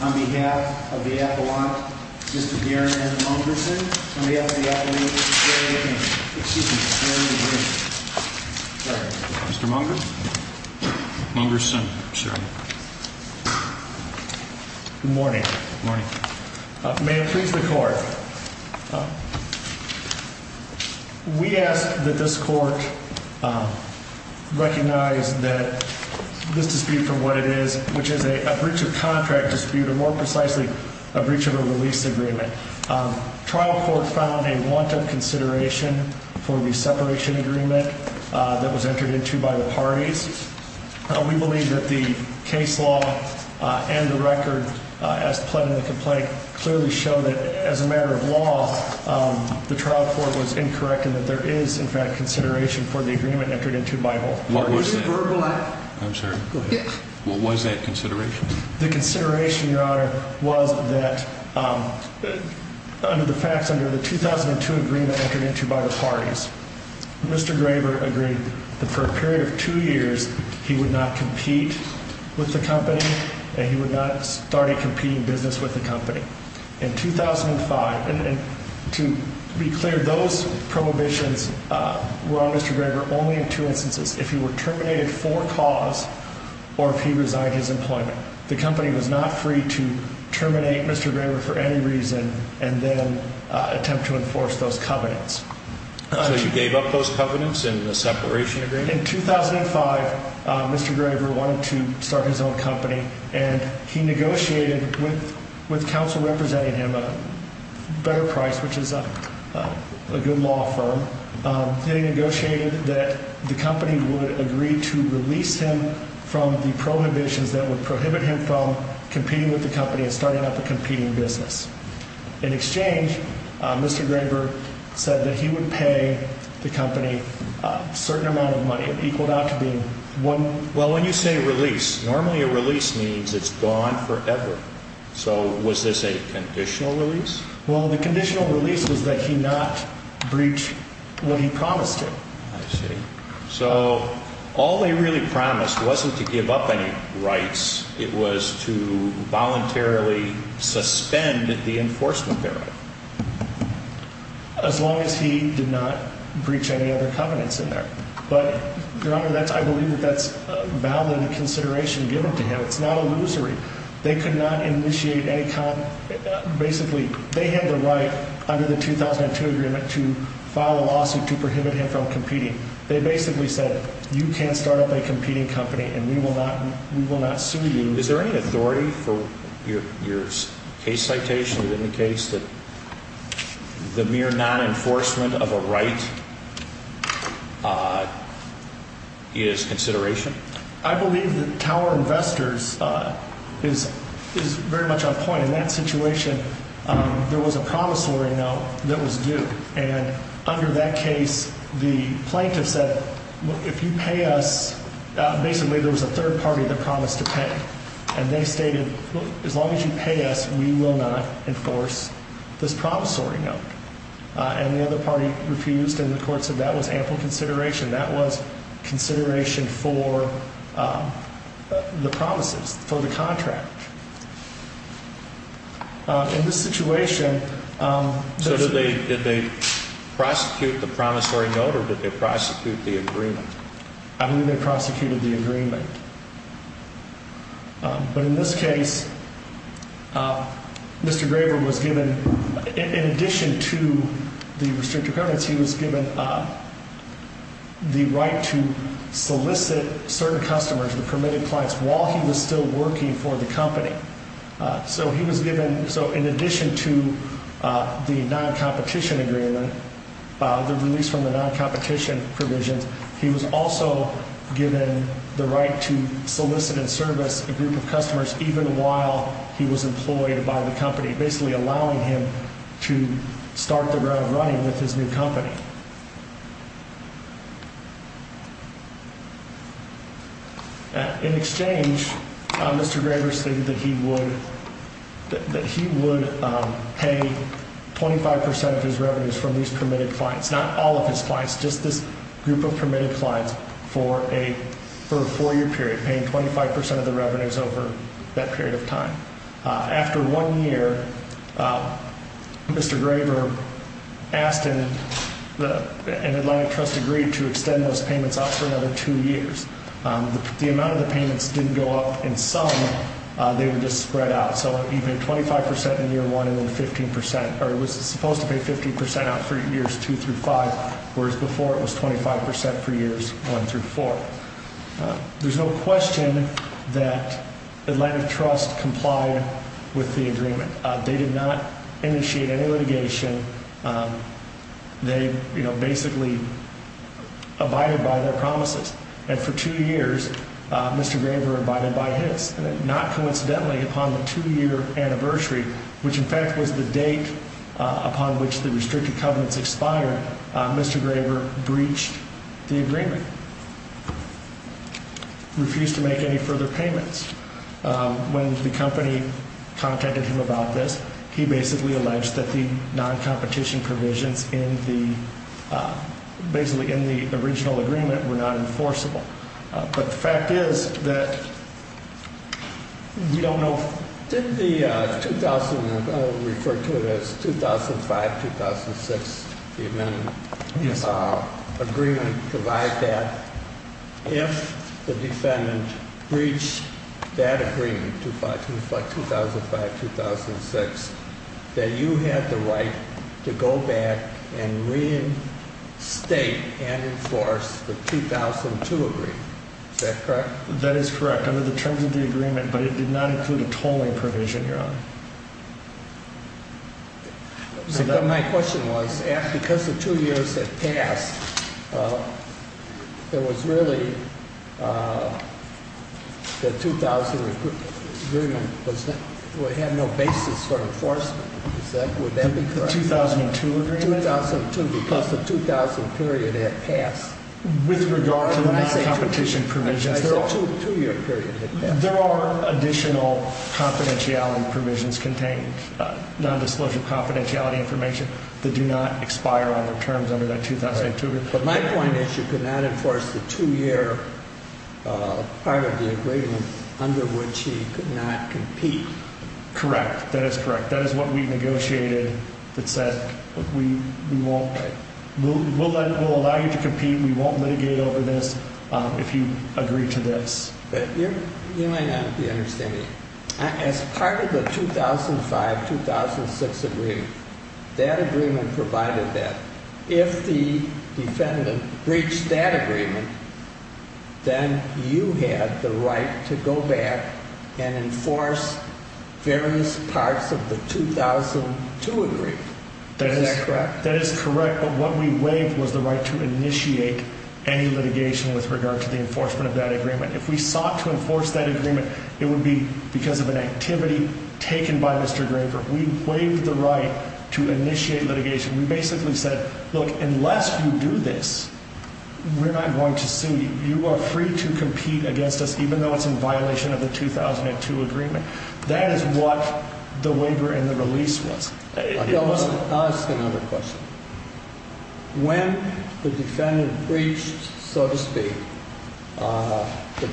On behalf of the appellate, Mr. Gary Mungerson. On behalf of the appellate, Mr. Sharon Debring. Mr. Munger? Mungerson. Good morning. May it please the court. We ask that this court recognize that this dispute for what it is, which is a breach of contract dispute, or more precisely, a breach of a release agreement. Trial court found a want of consideration for the separation agreement that was entered into by the parties. We believe that the case law and the record as pled in the complaint clearly show that as a matter of law, the trial court was incorrect and that there is in fact consideration for the agreement entered into by both parties. What was that? I'm sorry? Go ahead. What was that consideration? The consideration, Your Honor, was that under the facts, under the 2002 agreement entered into by the parties, Mr. Graver agreed that for a period of two years, he would not compete with the company and he would not start a competing business with the company. In 2005, and to be clear, those prohibitions were on Mr. Graver only in two instances. If he were terminated for cause or if he resigned his employment. The company was not free to terminate Mr. Graver for any reason and then attempt to enforce those covenants. So you gave up those covenants in the separation agreement? In 2005, Mr. Graver wanted to start his own company and he negotiated with with counsel representing him a better price, which is a good law firm. He negotiated that the company would agree to release him from the prohibitions that would prohibit him from competing with the company and starting up a competing business. In exchange, Mr. Graver said that he would pay the company a certain amount of money. It equaled out to being one. Well, when you say release, normally a release means it's gone forever. So was this a conditional release? Well, the conditional release was that he not breach what he promised him. I see. So all they really promised wasn't to give up any rights. It was to voluntarily suspend the enforcement thereof. As long as he did not breach any other covenants in there. But Your Honor, that's I believe that that's valid consideration given to him. It's not illusory. They could not initiate any kind of basically they have the right under the 2002 agreement to file a lawsuit to prohibit him from competing. They basically said you can't start up a competing company and we will not. We will not sue you. Is there any authority for your case citation that indicates that the mere non enforcement of a right is consideration? I believe that Tower Investors is is very much on point in that situation. There was a promissory note that was due. And under that case, the plaintiff said, if you pay us, basically there was a third party that promised to pay. And they stated, as long as you pay us, we will not enforce this promissory note. And the other party refused. And the court said that was ample consideration. That was consideration for the promises for the contract. In this situation. So did they did they prosecute the promissory note or did they prosecute the agreement? I believe they prosecuted the agreement. But in this case, Mr. Graber was given in addition to the restrictive permits, he was given the right to solicit certain customers and permitted clients while he was still working for the company. So he was given. So in addition to the non-competition agreement, the release from the non-competition provisions, he was also given the right to solicit and service a group of customers even while he was employed by the company, basically allowing him to start the road running with his new company. In exchange, Mr. Graber stated that he would that he would pay 25% of his revenues from these permitted clients, not all of his clients, just this group of permitted clients for a for a four year period, paying 25% of the revenues over that period of time. After one year, Mr. Graber asked him and Atlantic Trust agreed to extend those payments out for another two years. The amount of the payments didn't go up in some, they were just spread out. So he paid 25% in year one and then 15% or it was supposed to be 15% out for years two through five, whereas before it was 25% for years one through four. There's no question that Atlantic Trust complied with the agreement. They did not initiate any litigation. They basically abided by their promises. And for two years, Mr. Graber abided by his. Not coincidentally, upon the two year anniversary, which in fact was the date upon which the restricted covenants expired, Mr. Graber breached the agreement. He refused to make any further payments. When the company contacted him about this, he basically alleged that the non-competition provisions in the basically in the original agreement were not enforceable. But the fact is that we don't know. Did the 2000, I'll refer to it as 2005-2006 agreement provide that? If the defendant breached that agreement, 2005-2006, that you had the right to go back and reinstate and enforce the 2002 agreement. Is that correct? That is correct under the terms of the agreement, but it did not include a tolling provision, Your Honor. My question was, because the two years had passed, there was really, the 2000 agreement had no basis for enforcement. Would that be correct? The 2002 agreement? 2002, because the 2000 period had passed. With regard to the non-competition provisions, there are additional confidentiality provisions contained, non-disclosure confidentiality information that do not expire under terms under that 2002 agreement. But my point is you could not enforce the two year part of the agreement under which he could not compete. Correct. That is correct. That is what we negotiated that said we won't, we'll allow you to compete. We won't mitigate over this if you agree to this. Your Honor, if you understand me, as part of the 2005-2006 agreement, that agreement provided that. If the defendant breached that agreement, then you had the right to go back and enforce various parts of the 2002 agreement. Is that correct? That is correct, but what we waived was the right to initiate any litigation with regard to the enforcement of that agreement. If we sought to enforce that agreement, it would be because of an activity taken by Mr. Graber. We waived the right to initiate litigation. We basically said, look, unless you do this, we're not going to sue you. You are free to compete against us, even though it's in violation of the 2002 agreement. That is what the waiver and the release was. I'll ask another question. When the defendant breached, so to speak, the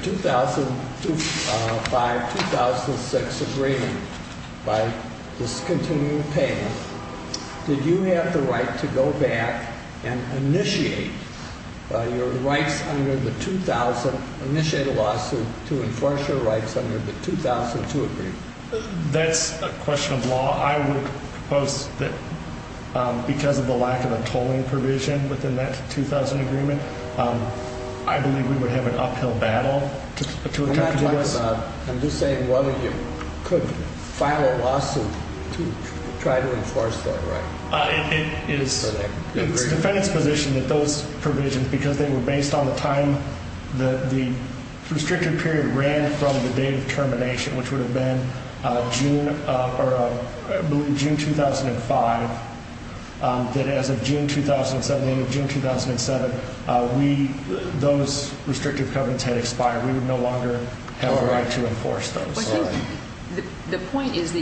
2005-2006 agreement by discontinued payment, did you have the right to go back and initiate your rights under the 2000, initiate a lawsuit to enforce your rights under the 2002 agreement? That's a question of law. I would propose that because of the lack of a tolling provision within that 2000 agreement, I believe we would have an uphill battle to attempt to do this. I'm just saying whether you could file a lawsuit to try to enforce that right. It's the defendant's position that those provisions, because they were based on the time the restricted period ran from the date of termination, which would have been June 2005, that as of June 2007, those restrictive covenants had expired. We would no longer have a right to enforce those. The point is that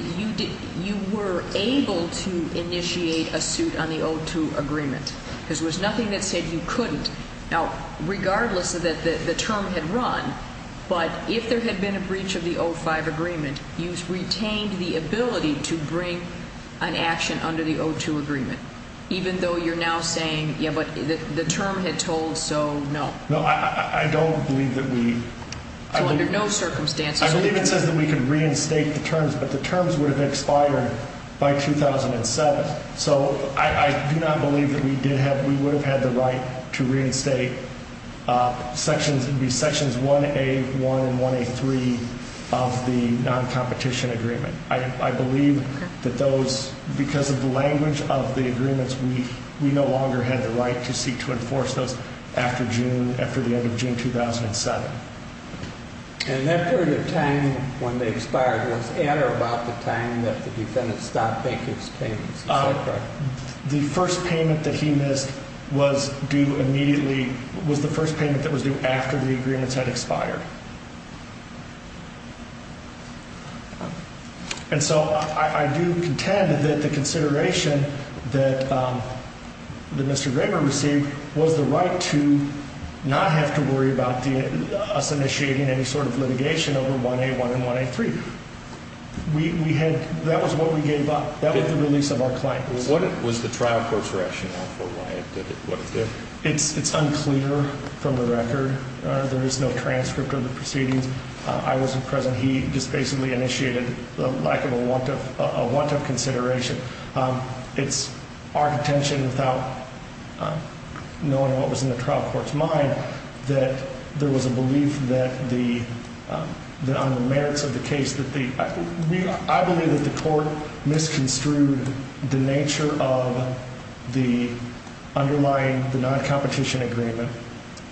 you were able to initiate a suit on the 2002 agreement. There was nothing that said you couldn't. Now, regardless of the term had run, but if there had been a breach of the 2005 agreement, you retained the ability to bring an action under the 2002 agreement, even though you're now saying the term had told so, no. I don't believe that we under no circumstances. I believe it says that we could reinstate the terms, but the terms would have expired by 2007. So I do not believe that we did have. We would have had the right to reinstate. Sections would be sections 1A1 and 1A3 of the non-competition agreement. I believe that those, because of the language of the agreements, we no longer had the right to seek to enforce those after June, after the end of June 2007. And that period of time when they expired was at or about the time that the defendant stopped making his payments? The first payment that he missed was due immediately was the first payment that was due after the agreements had expired. And so I do contend that the consideration that. The Mister Graber received was the right to not have to worry about us initiating any sort of litigation over 1A1 and 1A3. We had that was what we gave up. That was the release of our client. What was the trial court's rationale for why it did it? It's unclear from the record. There is no transcript of the proceedings. I wasn't present. He just basically initiated the lack of a want of a want of consideration. It's our intention, without knowing what was in the trial court's mind, that there was a belief that the merits of the case that the I believe that the court misconstrued the nature of the underlying the non-competition agreement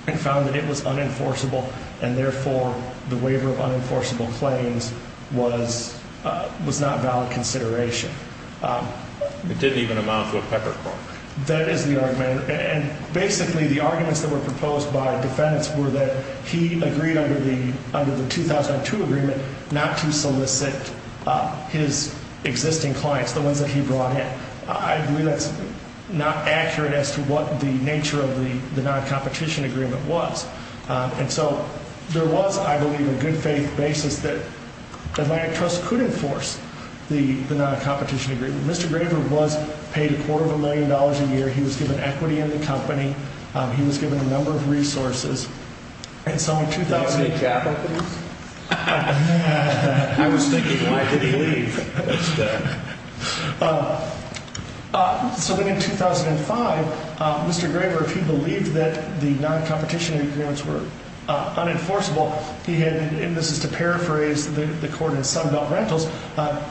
and found that it was unenforceable. And therefore, the waiver of unenforceable claims was was not valid consideration. It didn't even amount to a peppercorn. That is the argument. And basically, the arguments that were proposed by defendants were that he agreed under the under the 2002 agreement not to solicit his existing clients, the ones that he brought in. I believe that's not accurate as to what the nature of the non-competition agreement was. And so there was, I believe, a good faith basis that the trust could enforce the non-competition agreement. Mr. Graver was paid a quarter of a million dollars a year. He was given equity in the company. He was given a number of resources. So in 2005, Mr. Graver, if he believed that the non-competition agreements were unenforceable, he had, and this is to paraphrase the court in Sunbelt Rentals,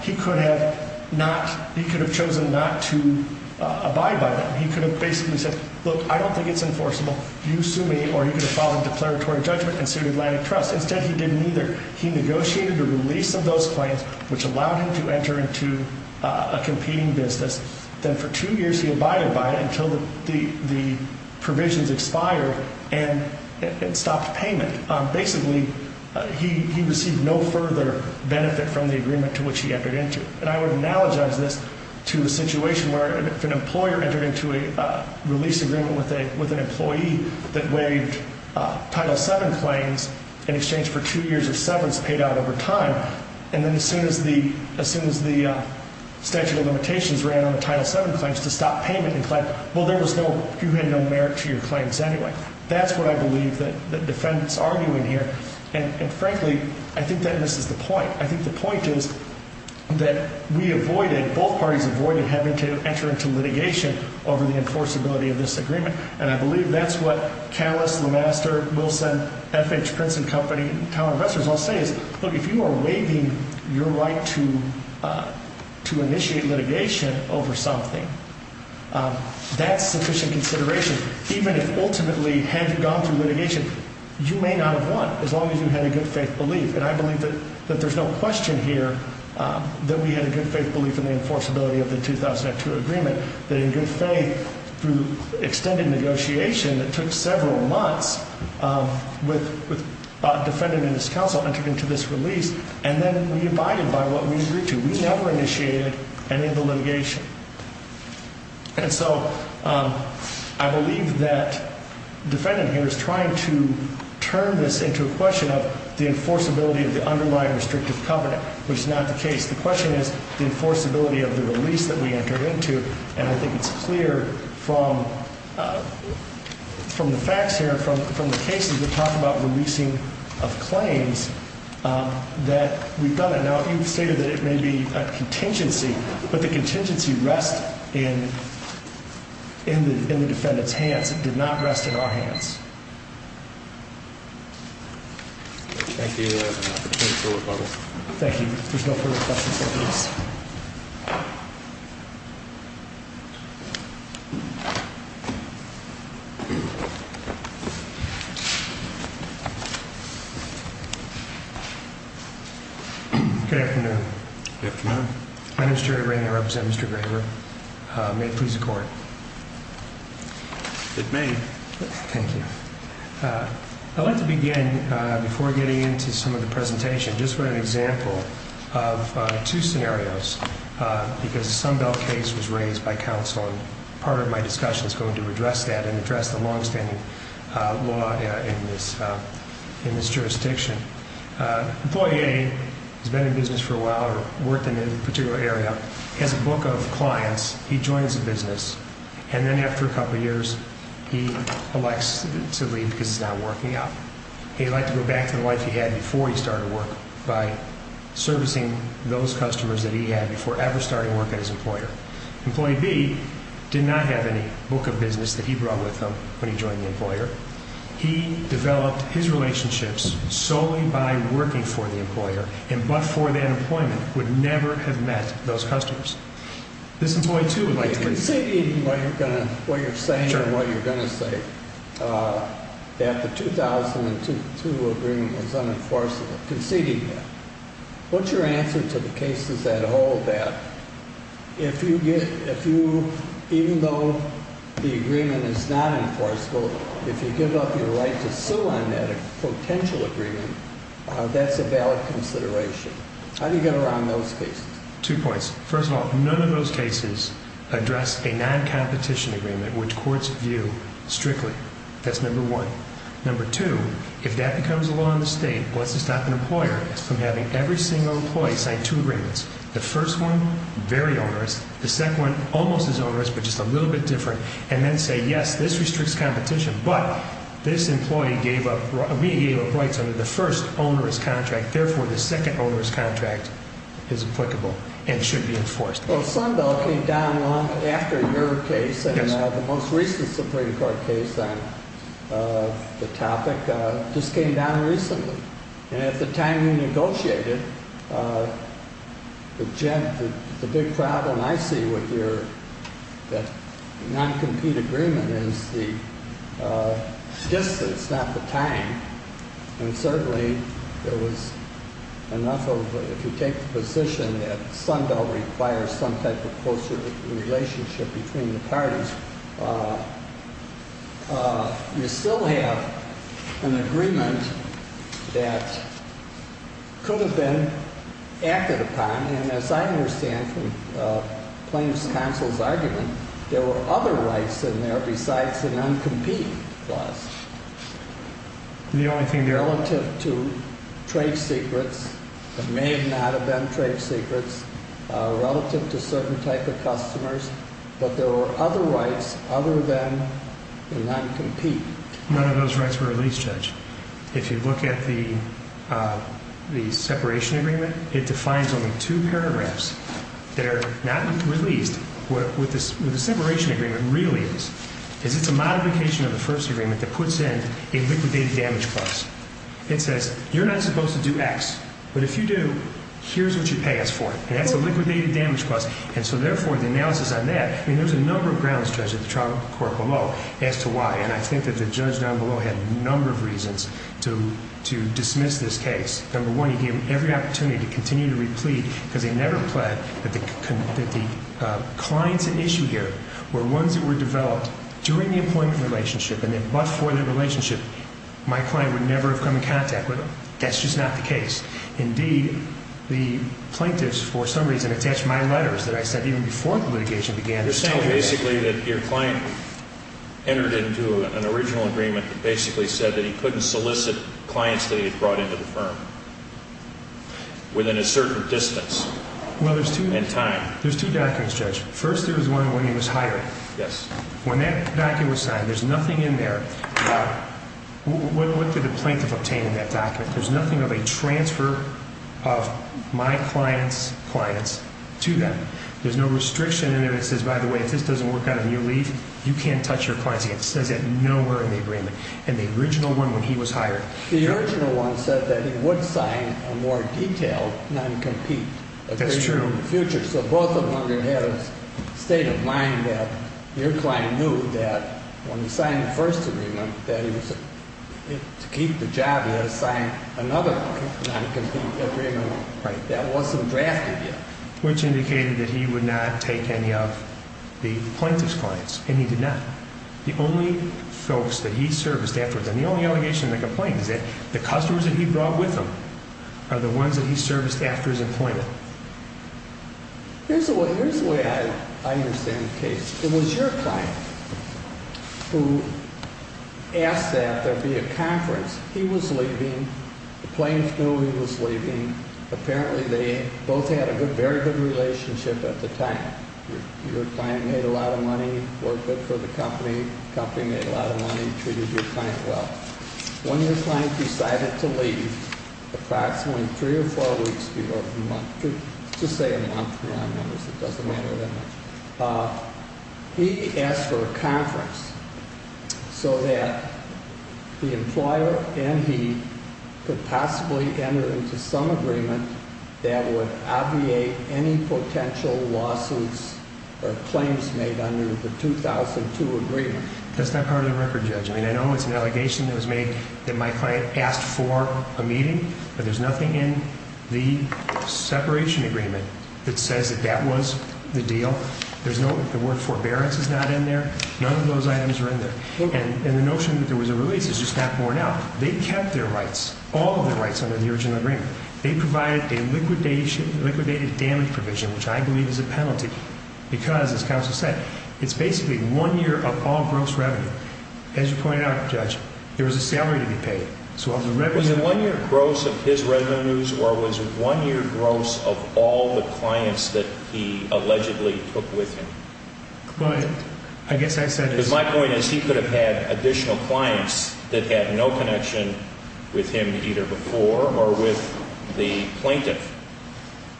he could have not, he could have chosen not to abide by that. He could have basically said, look, I don't think it's enforceable. You sue me, or you could have filed a declaratory judgment and sued Atlantic Trust. Instead, he did neither. He negotiated the release of those claims, which allowed him to enter into a competing business. Then for two years, he abided by it until the provisions expired and stopped payment. Basically, he received no further benefit from the agreement to which he entered into. And I would analogize this to a situation where if an employer entered into a release agreement with an employee that waived Title VII claims in exchange for two years of severance paid out over time, and then as soon as the statute of limitations ran on the Title VII claims to stop payment and claim, well, there was no, you had no merit to your claims anyway. That's what I believe the defendants are arguing here. And frankly, I think that misses the point. I think the point is that we avoided, both parties avoided having to enter into litigation over the enforceability of this agreement. And I believe that's what Callis, LeMaster, Wilson, FH, Prince and Company, and talent investors all say is, look, if you are waiving your right to initiate litigation over something, that's sufficient consideration. Even if ultimately had gone through litigation, you may not have won as long as you had a good faith belief. And I believe that there's no question here that we had a good faith belief in the enforceability of the 2002 agreement, that in good faith through extended negotiation that took several months with a defendant and his counsel entered into this release, and then we abided by what we agreed to. We never initiated any of the litigation. And so I believe that the defendant here is trying to turn this into a question of the enforceability of the underlying restrictive covenant, which is not the case. The question is the enforceability of the release that we entered into. And I think it's clear from the facts here, from the cases, we talk about releasing of claims that we've done it. Now, you've stated that it may be a contingency, but the contingency rests in the defendant's hands. It did not rest in our hands. Thank you. Thank you. There's no further questions. Good afternoon. My name is Jerry Rainey. I represent Mr. Graber. May it please the court. It may. Thank you. I'd like to begin, before getting into some of the presentation, just for an example of two scenarios, because the Sunbelt case was raised by counsel, and part of my discussion is going to address that and address the longstanding law in this jurisdiction. Employee A has been in business for a while or worked in a particular area, has a book of clients, he joins a business, and then after a couple of years, he elects to leave because he's not working out. He'd like to go back to the life he had before he started work by servicing those customers that he had before ever starting work as an employer. Employee B did not have any book of business that he brought with him when he joined the employer. He developed his relationships solely by working for the employer and, but for that employment, would never have met those customers. Conceding what you're saying and what you're going to say, that the 2002 agreement was unenforceable. Conceding that. What's your answer to the cases that hold that? Even though the agreement is not enforceable, if you give up your right to sue on that potential agreement, that's a valid consideration. How do you get around those cases? Two points. First of all, none of those cases address a non-competition agreement, which courts view strictly. That's number one. Number two, if that becomes a law in the state, what's to stop an employer from having every single employee sign two agreements? The first one, very onerous. The second one, almost as onerous, but just a little bit different. And then say, yes, this restricts competition, but this employee gave up rights under the first onerous contract. Therefore, the second onerous contract is applicable and should be enforced. Well, Sundell came down long after your case and the most recent Supreme Court case on the topic just came down recently. And at the time we negotiated, the big problem I see with your non-compete agreement is the distance, not the time. And certainly there was enough of, if you take the position that Sundell requires some type of closer relationship between the parties, you still have an agreement that could have been acted upon. And as I understand from plaintiff's counsel's argument, there were other rights in there besides the non-compete clause. Relative to trade secrets, there may not have been trade secrets relative to certain type of customers, but there were other rights other than the non-compete. None of those rights were released, Judge. If you look at the separation agreement, it defines only two paragraphs that are not released. What the separation agreement really is, is it's a modification of the first agreement that puts in a liquidated damage clause. It says, you're not supposed to do X, but if you do, here's what you pay us for. And that's a liquidated damage clause. And so therefore, the analysis on that, I mean, there's a number of grounds, Judge, at the trial court below as to why. And I think that the judge down below had a number of reasons to dismiss this case. Number one, he gave them every opportunity to continue to re-plead, because they never pledged that the clients at issue here were ones that were developed during the employment relationship and that, but for the relationship, my client would never have come in contact with them. That's just not the case. Indeed, the plaintiffs, for some reason, attached my letters that I sent even before the litigation began. You're saying basically that your client entered into an original agreement that basically said that he couldn't solicit clients that he had brought into the firm within a certain distance and time. Well, there's two documents, Judge. First, there was one when he was hired. Yes. When that document was signed, there's nothing in there about, what did the plaintiff obtain in that document? There's nothing of a transfer of my client's clients to them. There's no restriction in there that says, by the way, if this doesn't work out on your leave, you can't touch your clients again. It says that nowhere in the agreement. And the original one when he was hired. The original one said that he would sign a more detailed non-compete agreement in the future. That's true. So both of them had a state of mind that your client knew that when he signed the first agreement, that to keep the job, he had to sign another non-compete agreement that wasn't drafted yet. Which indicated that he would not take any of the plaintiff's clients, and he did not. The only folks that he serviced afterwards, and the only allegation in the complaint is that the customers that he brought with him are the ones that he serviced after his employment. Here's the way I understand the case. It was your client who asked that there be a conference. He was leaving. The plaintiff knew he was leaving. Apparently, they both had a very good relationship at the time. Your client made a lot of money, worked good for the company. The company made a lot of money, treated your client well. When your client decided to leave, approximately three or four weeks before, just say a month, it doesn't matter that much, he asked for a conference so that the employer and he could possibly enter into some agreement that would obviate any potential lawsuits or claims made under the 2002 agreement. That's not part of the record, Judge. I mean, I know it's an allegation that was made that my client asked for a meeting, but there's nothing in the separation agreement that says that that was the deal. The word forbearance is not in there. None of those items are in there. And the notion that there was a release is just not borne out. They kept their rights, all of their rights under the original agreement. They provided a liquidation, liquidated damage provision, which I believe is a penalty because, as counsel said, it's basically one year of all gross revenue. As you pointed out, Judge, there was a salary to be paid. Was it one year gross of his revenues or was it one year gross of all the clients that he allegedly took with him? My point is he could have had additional clients that had no connection with him either before or with the plaintiff.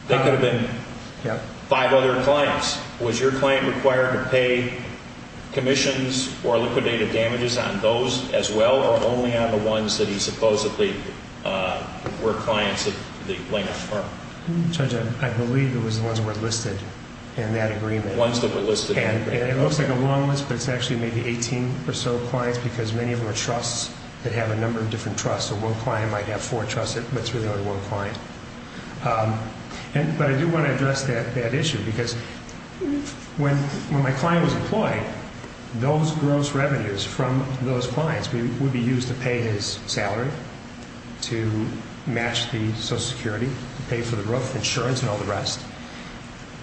There could have been five other clients. Was your client required to pay commissions or liquidated damages on those as well or only on the ones that he supposedly were clients of the plaintiff's firm? Judge, I believe it was the ones that were listed in that agreement. The ones that were listed in the agreement. And it looks like a long list, but it's actually maybe 18 or so clients because many of them are trusts that have a number of different trusts. So one client might have four trusts, but it's really only one client. But I do want to address that issue because when my client was employed, those gross revenues from those clients would be used to pay his salary, to match the Social Security, to pay for the growth insurance and all the rest.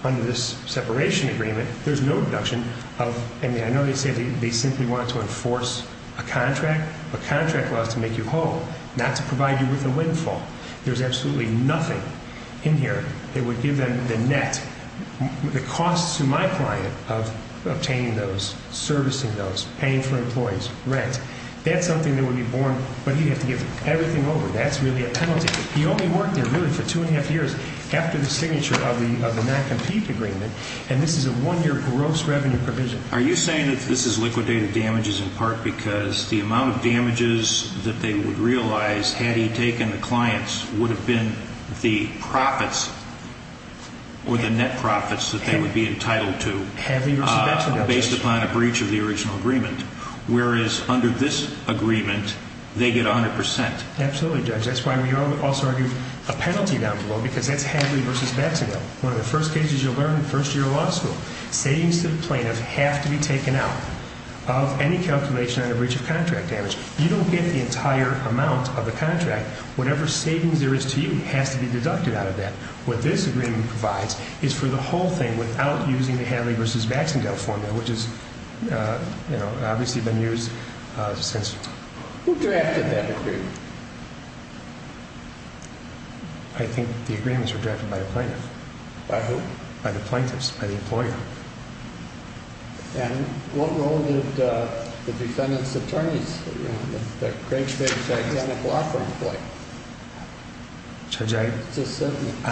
Under this separation agreement, there's no deduction. I know they said they simply wanted to enforce a contract. A contract allows to make you whole, not to provide you with a windfall. There's absolutely nothing in here that would give them the net, the costs to my client of obtaining those, servicing those, paying for employees, rent. That's something that would be borne, but he'd have to give everything over. That's really a penalty. He only worked there really for two and a half years after the signature of the non-compete agreement, and this is a one-year gross revenue provision. Are you saying that this is liquidated damages in part because the amount of damages that they would realize had he taken the clients would have been the profits or the net profits that they would be entitled to based upon a breach of the original agreement? Whereas under this agreement, they get 100%. Absolutely, Judge. That's why we also argue a penalty down below, because that's Hadley v. Baxendale. One of the first cases you'll learn in first-year law school. Savings to the plaintiff have to be taken out of any calculation on a breach of contract damage. You don't get the entire amount of the contract. Whatever savings there is to you has to be deducted out of that. What this agreement provides is for the whole thing without using the Hadley v. Baxendale formula, which has obviously been used since… Who directed that agreement? I think the agreement was directed by the plaintiff. By who? By the plaintiffs, by the employer. And what role did the defendant's attorneys, the Craig's case, play? Judge, I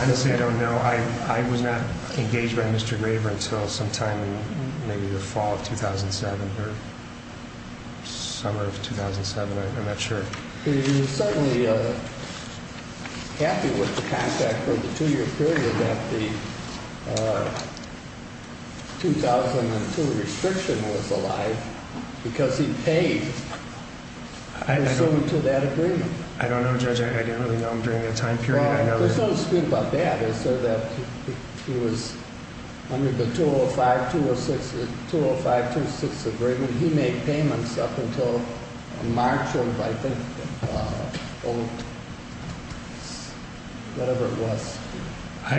honestly don't know. I was not engaged by Mr. Graver until sometime in maybe the fall of 2007 or summer of 2007. I'm not sure. He was certainly happy with the contract for the two-year period that the 2002 restriction was alive because he paid. And so until that agreement… I don't know, Judge. I didn't really know him during that time period. Well, let's not speak about that. He was under the 205-206 agreement. He made payments up until March of, I think, whatever it was. I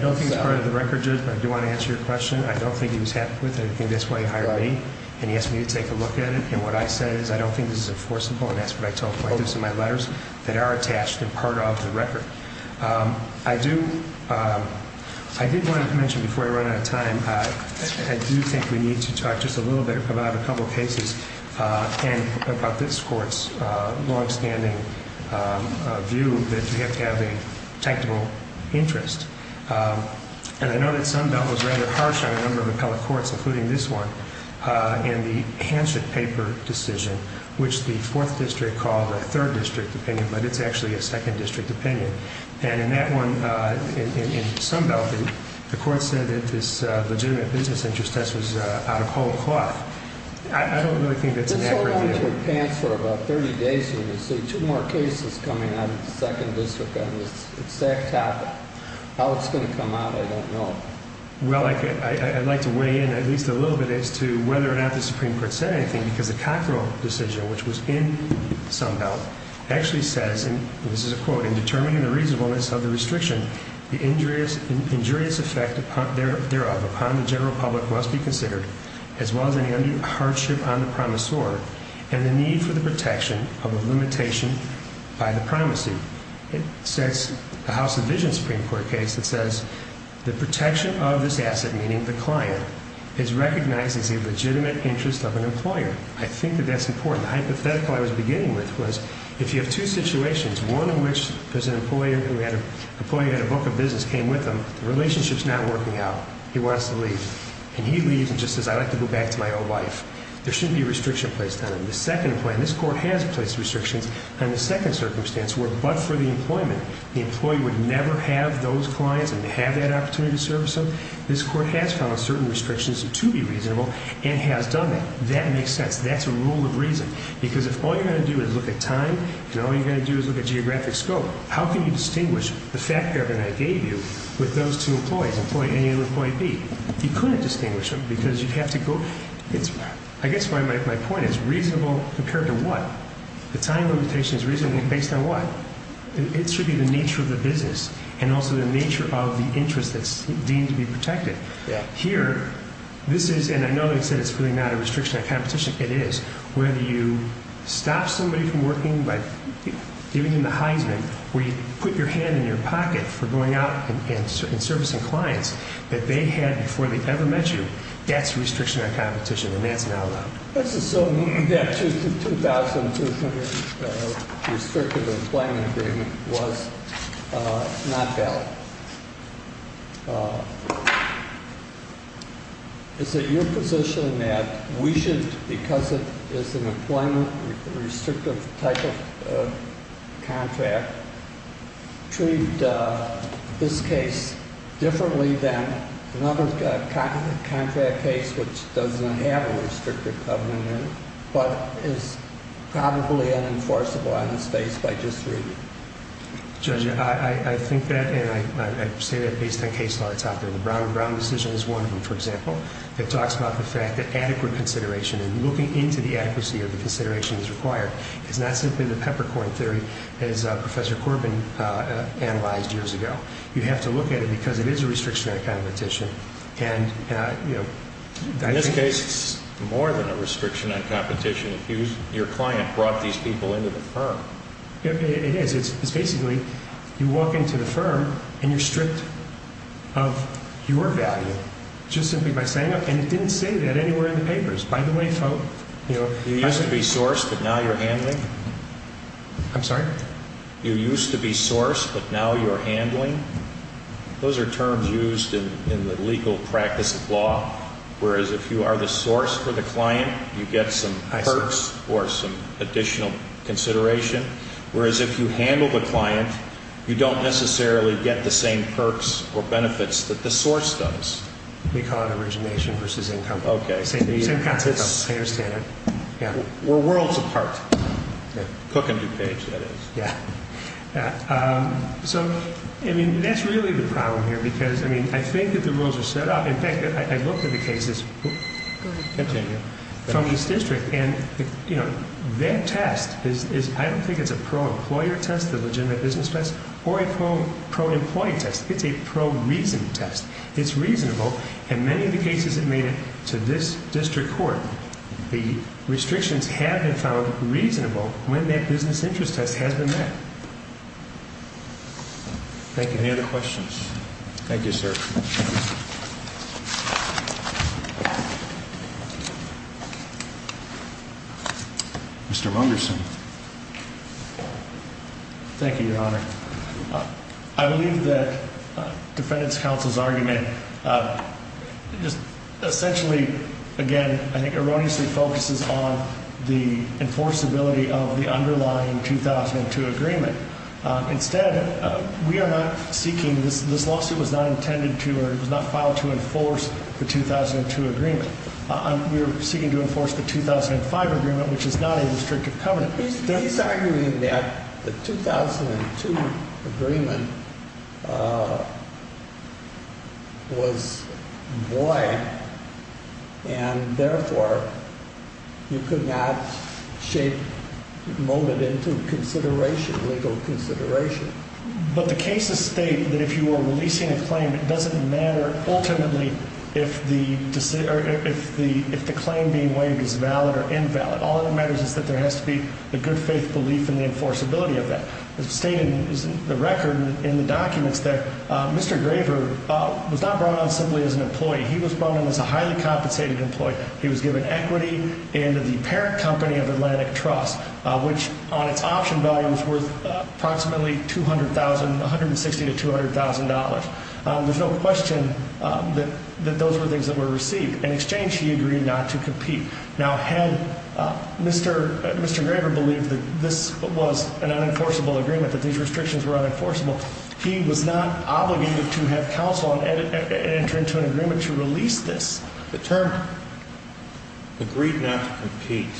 don't think it's part of the record, Judge, but I do want to answer your question. I don't think he was happy with anything. That's why he hired me and he asked me to take a look at it. And what I said is I don't think this is enforceable, and that's what I told the plaintiffs in my letters, that are attached and part of the record. I do want to mention before I run out of time, I do think we need to talk just a little bit about a couple of cases and about this Court's longstanding view that you have to have a technical interest. And I know that Sunbelt was rather harsh on a number of appellate courts, including this one, in the Hansen paper decision, which the 4th District called a 3rd District opinion, but it's actually a 2nd District opinion. And in that one, in Sunbelt, the Court said that this legitimate business interest test was out of whole cloth. I don't really think that's an accurate view. Well, I've held on to a pants for about 30 days here in this city. Two more cases coming out of the 2nd District on this exact topic. How it's going to come out, I don't know. Well, I'd like to weigh in at least a little bit as to whether or not the Supreme Court said anything, because the Cockrell decision, which was in Sunbelt, actually says, and this is a quote, in determining the reasonableness of the restriction, the injurious effect thereof upon the general public must be considered, as well as any hardship on the promissor, and the need for the protection of a limitation by the promisee. It says, the House of Visions Supreme Court case that says, the protection of this asset, meaning the client, is recognized as a legitimate interest of an employer. I think that that's important. The hypothetical I was beginning with was, if you have two situations, one in which there's an employer who had a book of business came with him, the relationship's not working out. He wants to leave. And he leaves and just says, I'd like to go back to my old wife. There shouldn't be a restriction placed on him. The second point, and this Court has placed restrictions on the second circumstance, where but for the employment, the employee would never have those clients and to have that opportunity to service them, this Court has found certain restrictions to be reasonable and has done that. That makes sense. That's a rule of reason. Because if all you're going to do is look at time, and all you're going to do is look at geographic scope, how can you distinguish the fact that I gave you with those two employees, employee A and employee B? You couldn't distinguish them because you'd have to go, I guess my point is, reasonable compared to what? The time limitation is reasonably based on what? It should be the nature of the business and also the nature of the interest that's deemed to be protected. Here, this is, and I know they said it's really not a restriction on competition. It is. Whether you stop somebody from working by giving them the Heisman, where you put your hand in your pocket for going out and servicing clients that they had before they ever met you, that's restriction on competition, and that's not allowed. Let's assume that 2200 restrictive employment agreement was not valid. Is it your position that we should, because it is an employment restrictive type of contract, treat this case differently than another contract case which doesn't have a restrictive covenant in it, but is probably unenforceable on its face by just reading it? Judge, I think that, and I say that based on case law that's out there. The Brown decision is one of them, for example. It talks about the fact that adequate consideration and looking into the accuracy of the consideration is required. It's not simply the peppercorn theory as Professor Corbin analyzed years ago. You have to look at it because it is a restriction on competition. In this case, it's more than a restriction on competition. Your client brought these people into the firm. It is. It's basically you walk into the firm and you're stripped of your value just simply by saying it. And it didn't say that anywhere in the papers. By the way, folk, you used to be sourced, but now you're handling. I'm sorry? You used to be sourced, but now you're handling. Those are terms used in the legal practice of law, whereas if you are the source for the client, you get some perks or some additional consideration. Whereas if you handle the client, you don't necessarily get the same perks or benefits that the source does. We call it origination versus income. Okay. Same concept, I understand it. We're worlds apart. Cook and DuPage, that is. Yeah. So, I mean, that's really the problem here because, I mean, I think that the rules are set up. In fact, I looked at the cases from this district, and, you know, that test is, I don't think it's a pro-employer test, the legitimate business test, or a pro-employee test. It's a pro-reason test. It's reasonable. In many of the cases that made it to this district court, the restrictions have been found reasonable when that business interest test has been met. Thank you. Any other questions? Thank you, sir. Mr. Wunderson. Thank you, Your Honor. I believe that defendant's counsel's argument just essentially, again, I think erroneously focuses on the enforceability of the underlying 2002 agreement. Instead, we are not seeking, this lawsuit was not intended to or it was not filed to enforce the 2002 agreement. We are seeking to enforce the 2005 agreement, which is not a restrictive covenant. But he's arguing that the 2002 agreement was void and, therefore, you could not shape, mold it into consideration, legal consideration. But the cases state that if you were releasing a claim, it doesn't matter ultimately if the claim being waived is valid or invalid. All that matters is that there has to be a good faith belief in the enforceability of that. It's stated in the record, in the documents, that Mr. Graver was not brought on simply as an employee. He was brought on as a highly compensated employee. He was given equity and the parent company of Atlantic Trust, which on its option value was worth approximately $160,000 to $200,000. There's no question that those were things that were received. In exchange, he agreed not to compete. Now, had Mr. Graver believed that this was an unenforceable agreement, that these restrictions were unenforceable, he was not obligated to have counsel enter into an agreement to release this. The term agreed not to compete,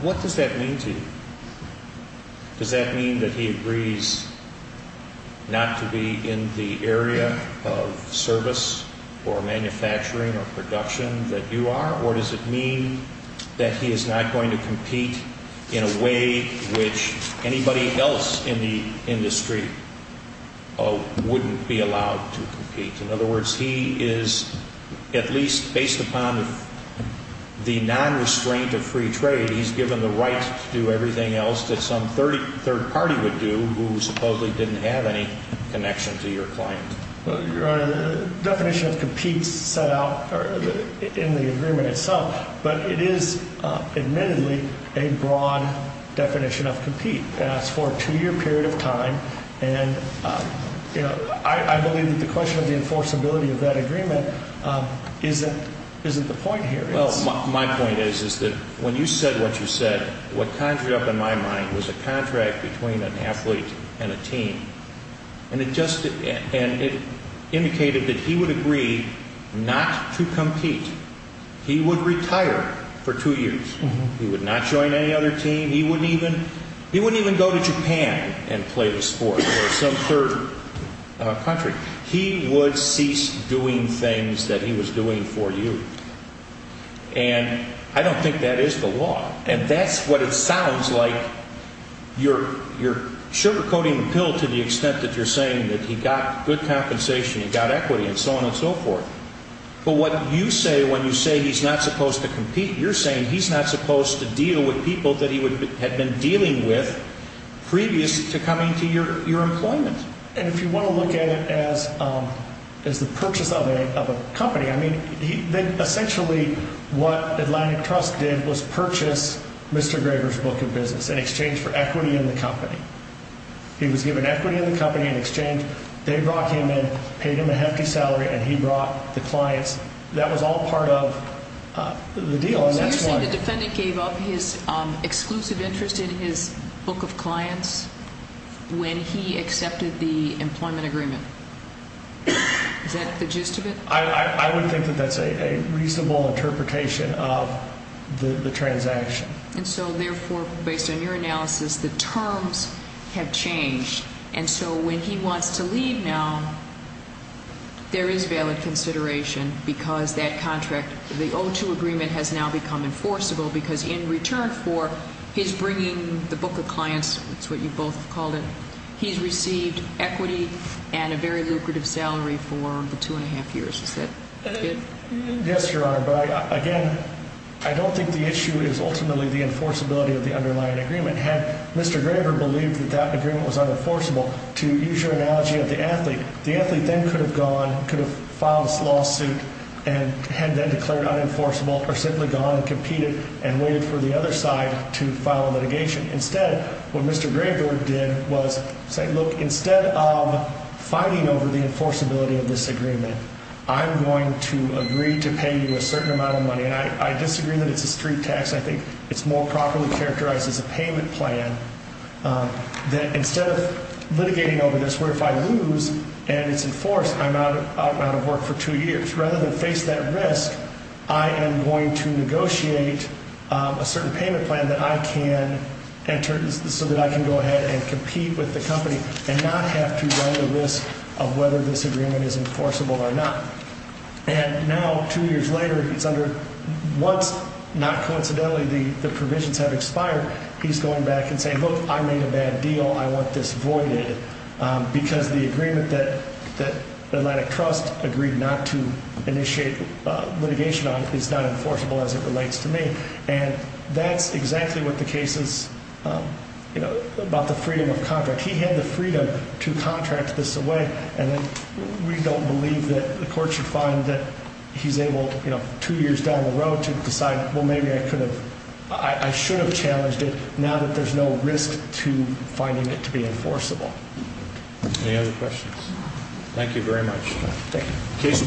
what does that mean to you? Does that mean that he agrees not to be in the area of service or manufacturing or production that you are? Or does it mean that he is not going to compete in a way which anybody else in the industry wouldn't be allowed to compete? In other words, he is, at least based upon the nonrestraint of free trade, he's given the right to do everything else that some third party would do who supposedly didn't have any connection to your client. Your Honor, the definition of compete is set out in the agreement itself, but it is admittedly a broad definition of compete. It's for a two-year period of time, and I believe that the question of the enforceability of that agreement isn't the point here. My point is that when you said what you said, what conjured up in my mind was a contract between an athlete and a team. And it indicated that he would agree not to compete. He would retire for two years. He would not join any other team. He wouldn't even go to Japan and play the sport or some third country. He would cease doing things that he was doing for you. And I don't think that is the law. And that's what it sounds like. You're sugarcoating the pill to the extent that you're saying that he got good compensation, he got equity, and so on and so forth. But what you say when you say he's not supposed to compete, you're saying he's not supposed to deal with people that he had been dealing with previous to coming to your employment. And if you want to look at it as the purchase of a company, I mean, essentially what Atlantic Trust did was purchase Mr. Graber's book of business in exchange for equity in the company. He was given equity in the company in exchange. They brought him in, paid him a hefty salary, and he brought the clients. That was all part of the deal. So you're saying the defendant gave up his exclusive interest in his book of clients when he accepted the employment agreement. Is that the gist of it? I would think that that's a reasonable interpretation of the transaction. And so, therefore, based on your analysis, the terms have changed. And so when he wants to leave now, there is valid consideration because that contract, the O2 agreement has now become enforceable because in return for his bringing the book of clients, that's what you both called it, he's received equity and a very lucrative salary for the two and a half years. Is that good? Yes, Your Honor. But, again, I don't think the issue is ultimately the enforceability of the underlying agreement. Had Mr. Graber believed that that agreement was unenforceable, to use your analogy of the athlete, the athlete then could have gone, could have filed this lawsuit and had then declared unenforceable or simply gone and competed and waited for the other side to file a litigation. Instead, what Mr. Graber did was say, look, instead of fighting over the enforceability of this agreement, I'm going to agree to pay you a certain amount of money. And I disagree that it's a street tax. I think it's more properly characterized as a payment plan that instead of litigating over this where if I lose and it's enforced, I'm out of work for two years. Rather than face that risk, I am going to negotiate a certain payment plan that I can enter so that I can go ahead and compete with the company and not have to run the risk of whether this agreement is enforceable or not. And now, two years later, it's under what's not coincidentally the provisions have expired. He's going back and saying, look, I made a bad deal. I want this voided because the agreement that the Atlantic Trust agreed not to initiate litigation on is not enforceable as it relates to me. And that's exactly what the case is about the freedom of contract. He had the freedom to contract this away, and we don't believe that the court should find that he's able two years down the road to decide, well, maybe I should have challenged it now that there's no risk to finding it to be enforceable. Any other questions? Thank you very much. Thank you.